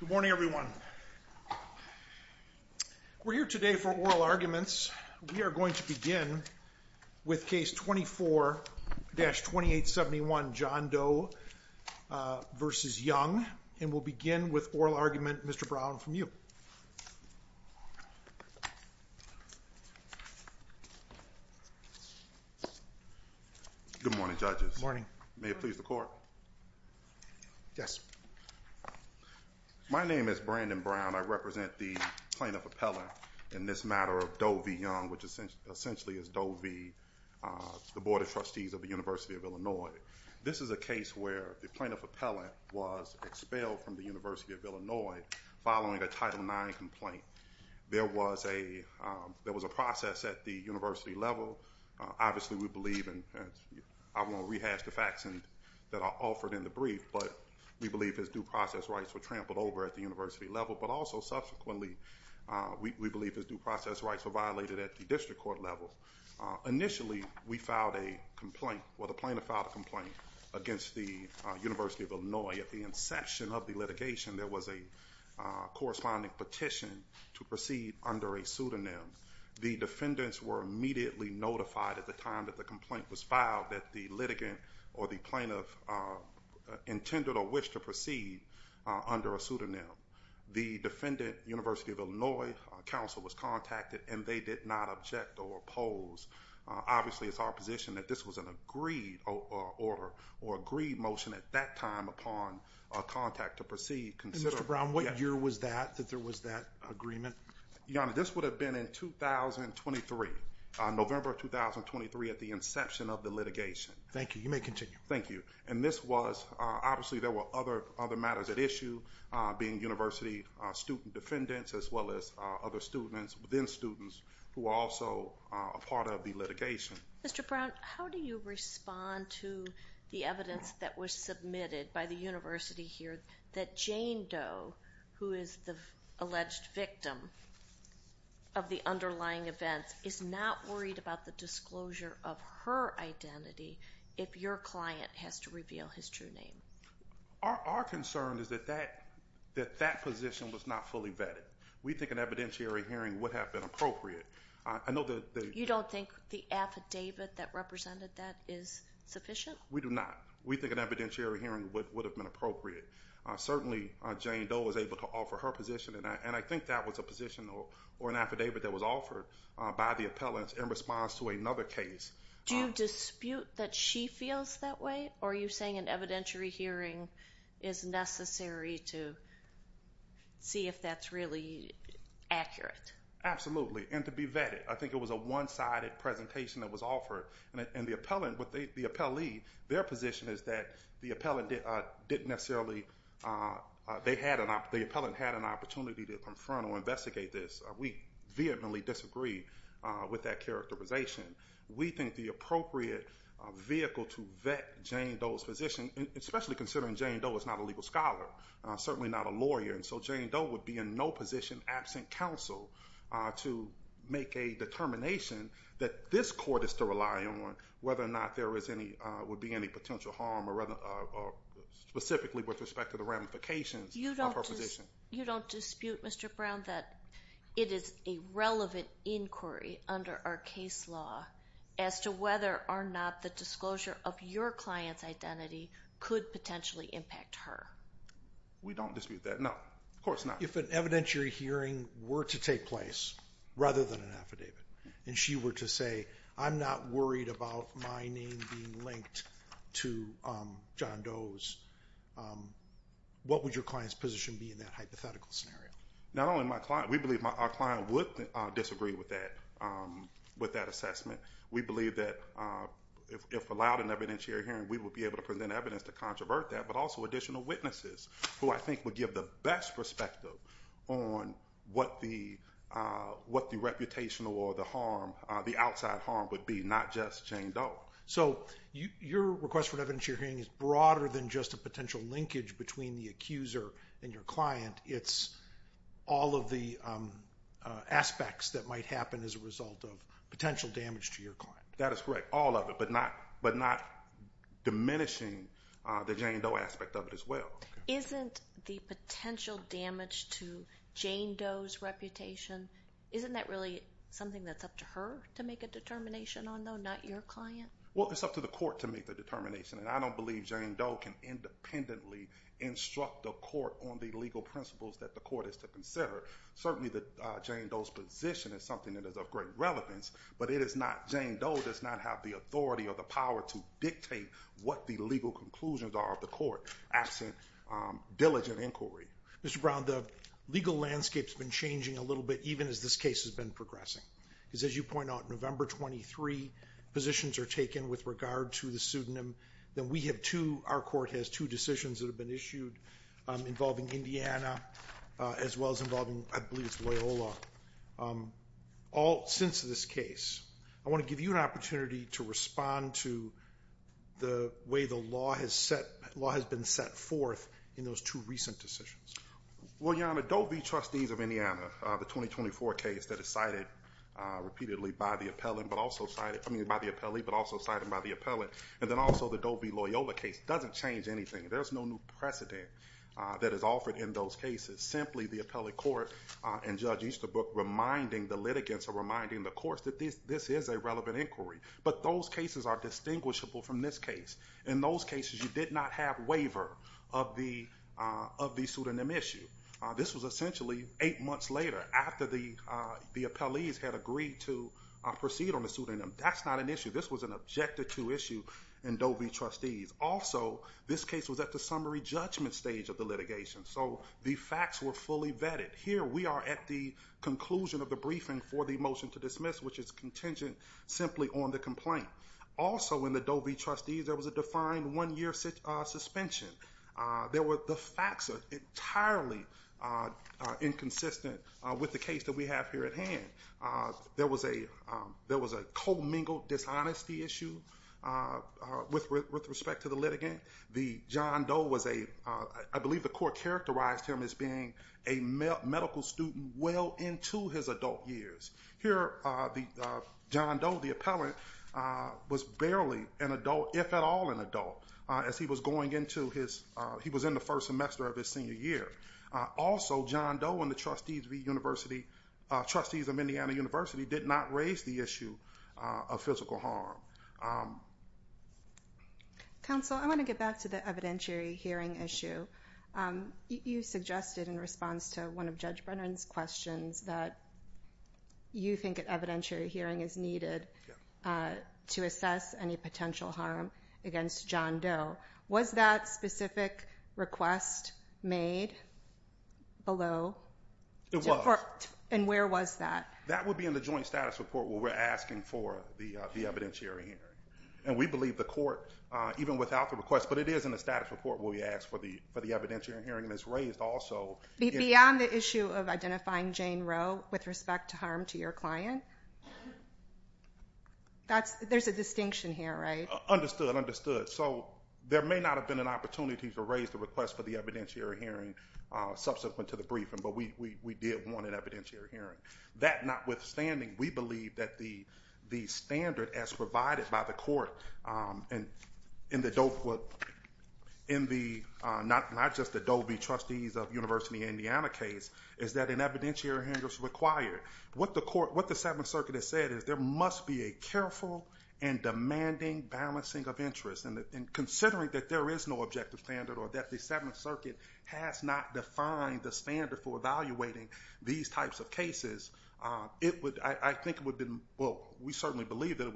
Good morning everyone. We're here today for oral arguments. We are going to begin with case 24-2871 John Doe v. Young and we'll begin with oral argument Mr. Brown from you. Good morning judges. Good morning. May it please the court. Yes. My name is Brandon Brown. I represent the plaintiff appellant in this matter of Doe v. Young which essentially is Doe v. the Board of Trustees of the University of Illinois. This is a case where the plaintiff appellant was expelled from the University of Illinois following a Title IX complaint. There was a process at the university level. Obviously we believe and I won't rehash the facts that are offered in the brief but we believe his due process rights were trampled over at the university level but also subsequently we believe his due process rights were violated at the district court level. Initially we filed a complaint, well the plaintiff filed a complaint against the University of Illinois. At the inception of the litigation there was a corresponding petition to proceed under a pseudonym. The defendants were immediately notified at the time that the complaint was filed that the litigant or the plaintiff intended or wished to proceed under a pseudonym. The defendant, University of Illinois counsel was contacted and they did not object or oppose. Obviously it's our position that this was an agreed order or agreed motion at that time upon contact to proceed. Mr. Brown, what year was that, that there was that agreement? This would have been in 2023, November 2023 at the inception of the litigation. Thank you. You may continue. Thank you. And this was, obviously there were other matters at issue being university student defendants as well as other students within students who were also a part of the litigation. Mr. Brown, how do you respond to the evidence that was submitted by the university here that Jane Doe, who is the alleged victim of the underlying events, is not worried about the disclosure of her identity if your client has to reveal his true name? Our concern is that that position was not fully vetted. We think an evidentiary hearing would have been appropriate. I know that... You don't think the affidavit that represented that is sufficient? We do not. We think an evidentiary hearing would have been appropriate. Certainly Jane Doe was able to offer her position and I think that was a position or an affidavit that was offered by the appellants in response to another case. Do you dispute that she feels that way or are you saying an evidentiary hearing is necessary to see if that's really accurate? Absolutely, and to be vetted. I think it was a one-sided presentation that was offered and the appellant, the appellee, their position is that the appellant didn't necessarily, they had an opportunity to confront or investigate this. We vehemently disagree with that characterization. We think the appropriate vehicle to vet Jane Doe's position, especially considering Jane Doe is not a legal scholar, certainly not a lawyer, and so Jane Doe would be in no position absent counsel to make a determination that this court is to rely on whether or not there is any, would be any potential harm or specifically with respect to the ramifications of her position. You don't dispute, Mr. Brown, that it is a relevant inquiry under our case law as to whether or not the disclosure of your client's identity could potentially impact her? We don't dispute that, no. Of course not. If an evidentiary hearing were to take place, rather than an affidavit, and she were to say, I'm not worried about my name being linked to John Doe's, what would your client's position be in that hypothetical scenario? Not only my client, we believe our client would disagree with that, with that assessment. We believe that if allowed an evidentiary hearing, we would be able to present evidence to controvert that, but also additional witnesses who I think would give the best perspective on what the reputation or the harm, the outside harm would be, not just Jane Doe. So your request for an evidentiary hearing is broader than just a potential linkage between the accuser and your client. It's all of the aspects that might happen as a result of potential damage to your client. That is correct, all of it, but not diminishing the Jane Doe aspect of it as well. Isn't the potential damage to Jane Doe's reputation, isn't that really something that's up to her to make a determination on, though, not your client? Well, it's up to the court to make the determination, and I don't believe Jane Doe can independently instruct the court on the legal principles that the court is to consider. Certainly Jane Doe's position is something that is of great relevance, but it is not that Jane Doe does not have the authority or the power to dictate what the legal conclusions are of the court, absent diligent inquiry. Mr. Brown, the legal landscape's been changing a little bit, even as this case has been progressing. Because as you point out, November 23 positions are taken with regard to the pseudonym. Then we have two, our court has two decisions that have been issued involving Indiana, as well as involving, I believe it's Loyola. Since this case, I want to give you an opportunity to respond to the way the law has been set forth in those two recent decisions. Well, Your Honor, Doe v. Trustees of Indiana, the 2024 case that is cited repeatedly by the appellee, but also cited by the appellant, and then also the Doe v. Loyola case doesn't change anything. There's no new precedent that is offered in those cases. It's simply the appellate court and Judge Easterbrook reminding the litigants or reminding the courts that this is a relevant inquiry. But those cases are distinguishable from this case. In those cases, you did not have waiver of the pseudonym issue. This was essentially eight months later, after the appellees had agreed to proceed on the pseudonym. That's not an issue. This was an objective to issue in Doe v. Trustees. Also, this case was at the summary judgment stage of the litigation. So the facts were fully vetted. Here we are at the conclusion of the briefing for the motion to dismiss, which is contingent simply on the complaint. Also in the Doe v. Trustees, there was a defined one-year suspension. There were the facts entirely inconsistent with the case that we have here at hand. There was a commingled dishonesty issue with respect to the litigant. The John Doe was a, I believe the court characterized him as being a medical student well into his adult years. Here John Doe, the appellant, was barely an adult, if at all an adult, as he was going into his, he was in the first semester of his senior year. Also, John Doe and the Trustees of the University, Trustees of Indiana University did not raise the issue of physical harm. Counsel, I want to get back to the evidentiary hearing issue. You suggested in response to one of Judge Brennan's questions that you think an evidentiary hearing is needed to assess any potential harm against John Doe. Was that specific request made below? It was. And where was that? That would be in the joint status report where we're asking for the evidentiary hearing. And we believe the court, even without the request, but it is in the status report where we ask for the evidentiary hearing, and it's raised also. Beyond the issue of identifying Jane Roe with respect to harm to your client? There's a distinction here, right? Understood, understood. So, there may not have been an opportunity to raise the request for the evidentiary hearing subsequent to the briefing, but we did want an evidentiary hearing. That notwithstanding, we believe that the standard as provided by the court in the not just the Doe v. Trustees of University of Indiana case is that an evidentiary hearing is required. What the seventh circuit has said is there must be a careful and demanding balancing of interest. And considering that there is no objective standard or that the seventh circuit has not defined the standard for evaluating these types of cases, it would, I think it would have been, well, we certainly believe that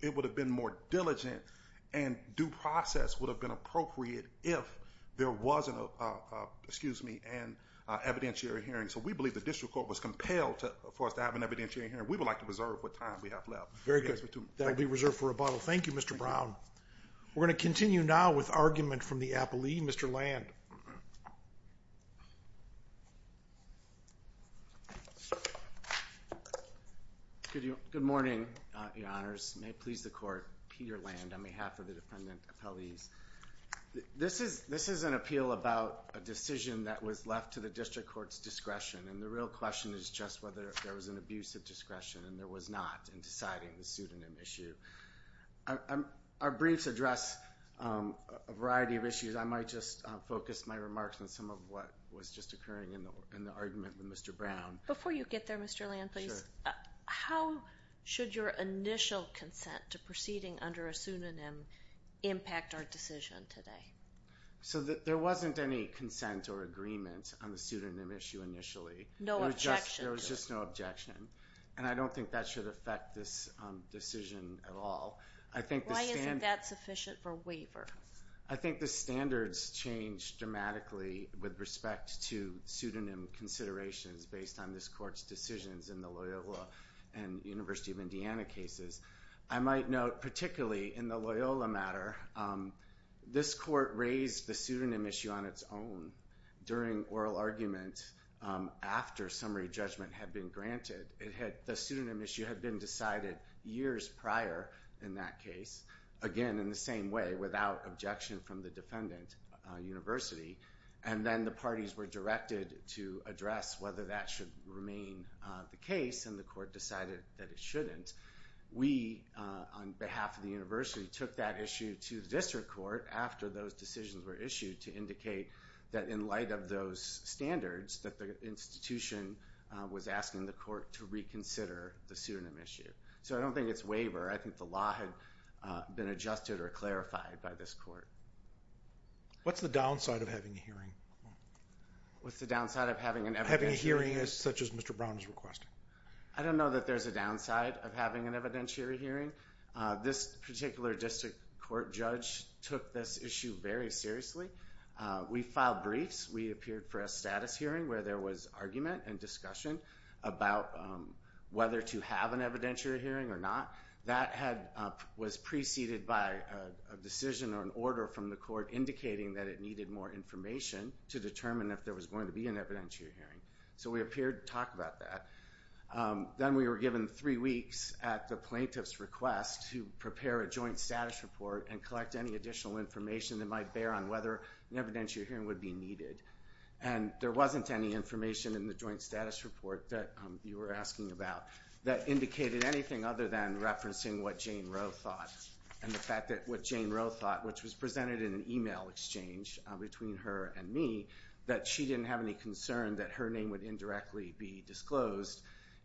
it would have been more diligent and due process would have been appropriate if there wasn't an evidentiary hearing. So, we believe the district court was compelled for us to have an evidentiary hearing. We would like to reserve what time we have left. Very good. That will be reserved for rebuttal. Thank you, Mr. Brown. We're going to continue now with argument from the applee. Mr. Land. Good morning, your honors. May it please the court. Peter Land on behalf of the defendant appellees. This is an appeal about a decision that was left to the district court's discretion and the real question is just whether there was an abuse of discretion and there was not in deciding the pseudonym issue. Our briefs address a variety of issues. I might just focus my remarks on some of what was just occurring in the argument with Mr. Brown. Before you get there, Mr. Land, please, how should your initial consent to proceeding under a pseudonym impact our decision today? So there wasn't any consent or agreement on the pseudonym issue initially. No objection. There was just no objection and I don't think that should affect this decision at all. I think the standard. Why isn't that sufficient for waiver? I think the standards change dramatically with respect to pseudonym considerations based on this court's decisions in the Loyola and University of Indiana cases. I might note, particularly in the Loyola matter, this court raised the pseudonym issue on its own during oral argument after summary judgment had been granted. The pseudonym issue had been decided years prior in that case, again, in the same way without objection from the defendant, University, and then the parties were directed to address whether that should remain the case and the court decided that it shouldn't. We, on behalf of the university, took that issue to the district court after those decisions were issued to indicate that in light of those standards, that the institution was asking the court to reconsider the pseudonym issue. So I don't think it's waiver. I think the law had been adjusted or clarified by this court. What's the downside of having a hearing? What's the downside of having an evidentiary hearing? Having a hearing such as Mr. Brown is requesting. I don't know that there's a downside of having an evidentiary hearing. This particular district court judge took this issue very seriously. We filed briefs. We appeared for a status hearing where there was argument and discussion about whether to have an evidentiary hearing or not. That was preceded by a decision or an order from the court indicating that it needed more information to determine if there was going to be an evidentiary hearing. So we appeared to talk about that. Then we were given three weeks at the plaintiff's request to prepare a joint status report and collect any additional information that might bear on whether an evidentiary hearing would be needed. And there wasn't any information in the joint status report that you were asking about that indicated anything other than referencing what Jane Roe thought and the fact that what Jane Roe thought, which was presented in an email exchange between her and me, that she didn't have any concern that her name would indirectly be disclosed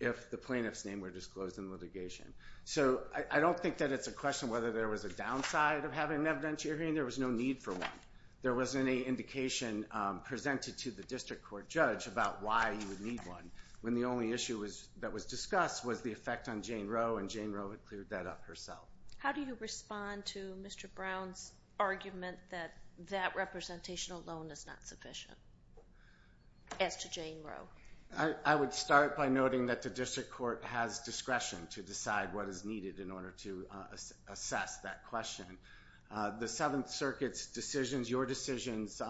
if the plaintiff's name were disclosed in litigation. So I don't think that it's a question whether there was a downside of having an evidentiary hearing. There was no need for one. There wasn't any indication presented to the district court judge about why you would need one, when the only issue that was discussed was the effect on Jane Roe, and Jane Roe had cleared that up herself. How do you respond to Mr. Brown's argument that that representation alone is not sufficient as to Jane Roe? I would start by noting that the district court has discretion to decide what is needed in order to assess that question. The Seventh Circuit's decisions, your decisions,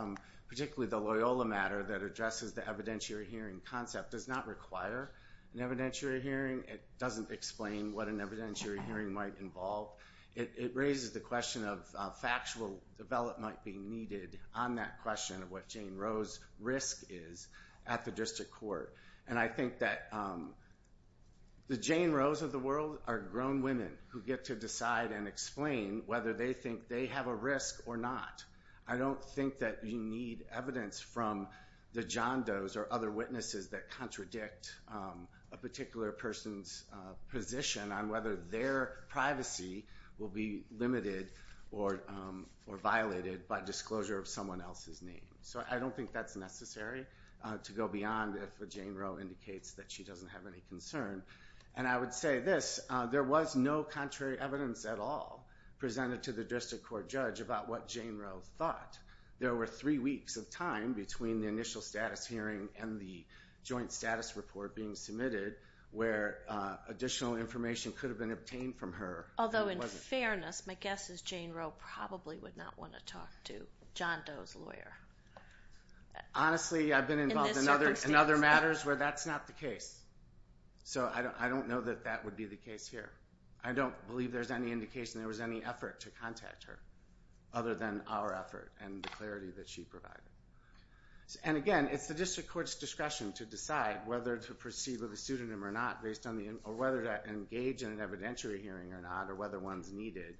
particularly the Loyola matter that addresses the evidentiary hearing concept, does not require an evidentiary hearing. It doesn't explain what an evidentiary hearing might involve. It raises the question of factual development might be needed on that question of what Jane Roe's risk is at the district court. And I think that the Jane Roes of the world are grown women who get to decide and explain whether they think they have a risk or not. I don't think that you need evidence from the John Does or other witnesses that contradict a particular person's position on whether their privacy will be limited or violated by disclosure of someone else's name. So I don't think that's necessary to go beyond if a Jane Roe indicates that she doesn't have any concern. And I would say this, there was no contrary evidence at all presented to the district court judge about what Jane Roe thought. There were three weeks of time between the initial status hearing and the joint status report being submitted where additional information could have been obtained from her. Although in fairness, my guess is Jane Roe probably would not want to talk to John Does lawyer. Honestly, I've been involved in other matters where that's not the case. So I don't know that that would be the case here. I don't believe there's any indication there was any effort to contact her other than our effort and the clarity that she provided. And again, it's the district court's discretion to decide whether to proceed with a pseudonym or not based on the, or whether to engage in an evidentiary hearing or not, or whether one's needed.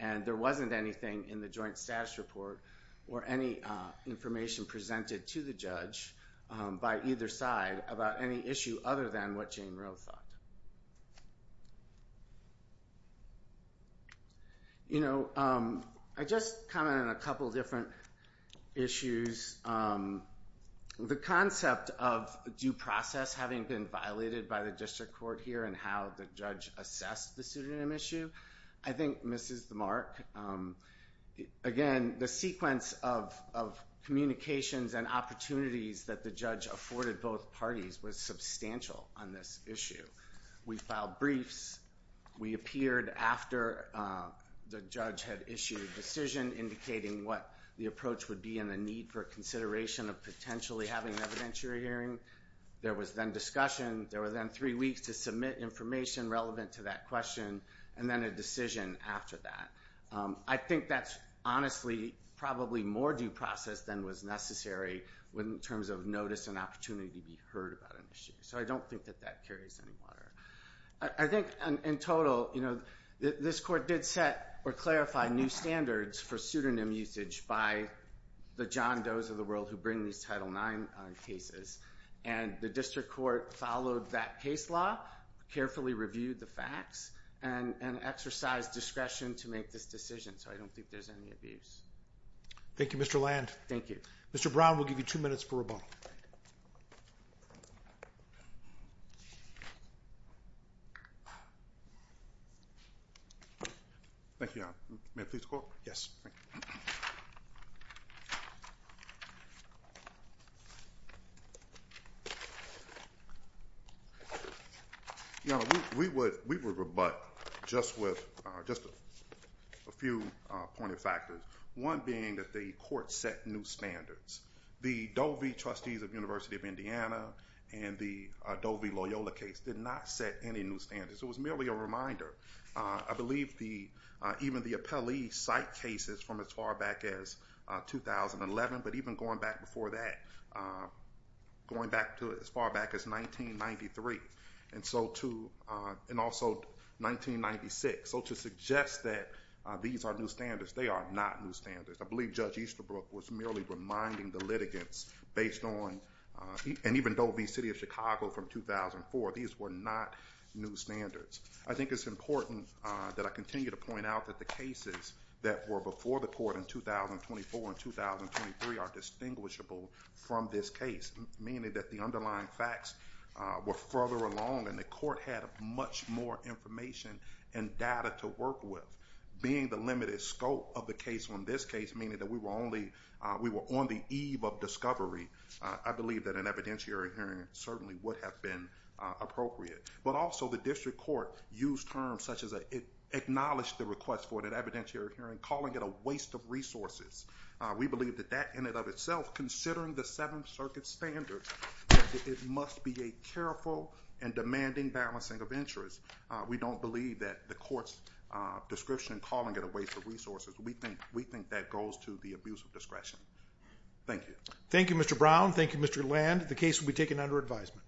And there wasn't anything in the joint status report or any information presented to the by either side about any issue other than what Jane Roe thought. You know, I just commented on a couple of different issues. The concept of due process having been violated by the district court here and how the judge assessed the pseudonym issue, I think misses the mark. Again, the sequence of communications and opportunities that the judge afforded both parties was substantial on this issue. We filed briefs. We appeared after the judge had issued a decision indicating what the approach would be and the need for consideration of potentially having an evidentiary hearing. There was then discussion. There were then three weeks to submit information relevant to that question, and then a decision after that. I think that's honestly probably more due process than was necessary in terms of notice and opportunity to be heard about an issue. So I don't think that that carries any water. I think in total, you know, this court did set or clarify new standards for pseudonym usage by the John Does of the world who bring these Title IX cases, and the district court followed that case law, carefully reviewed the facts, and exercised discretion to make this decision. So I don't think there's any abuse. Thank you, Mr. Land. Thank you. Mr. Brown, we'll give you two minutes for rebuttal. Thank you, Your Honor. May I please call? Yes. Thank you. Your Honor, we would rebut just with a few point of factors, one being that the court set new standards. The Doe v. Trustees of the University of Indiana and the Doe v. Loyola case did not set any new standards. It was merely a reminder. I believe even the appellee cite cases from as far back as 2011, but even going back before that, going back to as far back as 1993, and also 1996. So to suggest that these are new standards, they are not new standards. I believe Judge Easterbrook was merely reminding the litigants based on, and even Doe v. City of Chicago from 2004, these were not new standards. I think it's important that I continue to point out that the cases that were before the court in 2024 and 2023 are distinguishable from this case, meaning that the underlying facts were further along and the court had much more information and data to work with. Being the limited scope of the case on this case, meaning that we were only, we were on the eve of discovery, I believe that an evidentiary hearing certainly would have been appropriate. But also the district court used terms such as it acknowledged the request for an evidentiary hearing, calling it a waste of resources. We believe that that in and of itself, considering the Seventh Circuit standards, that it must be a careful and demanding balancing of interests. We don't believe that the court's description calling it a waste of resources. We think that goes to the abuse of discretion. Thank you. Thank you, Mr. Brown. Thank you, Mr. Land. The case will be taken under advisement. Thank you. Thank you.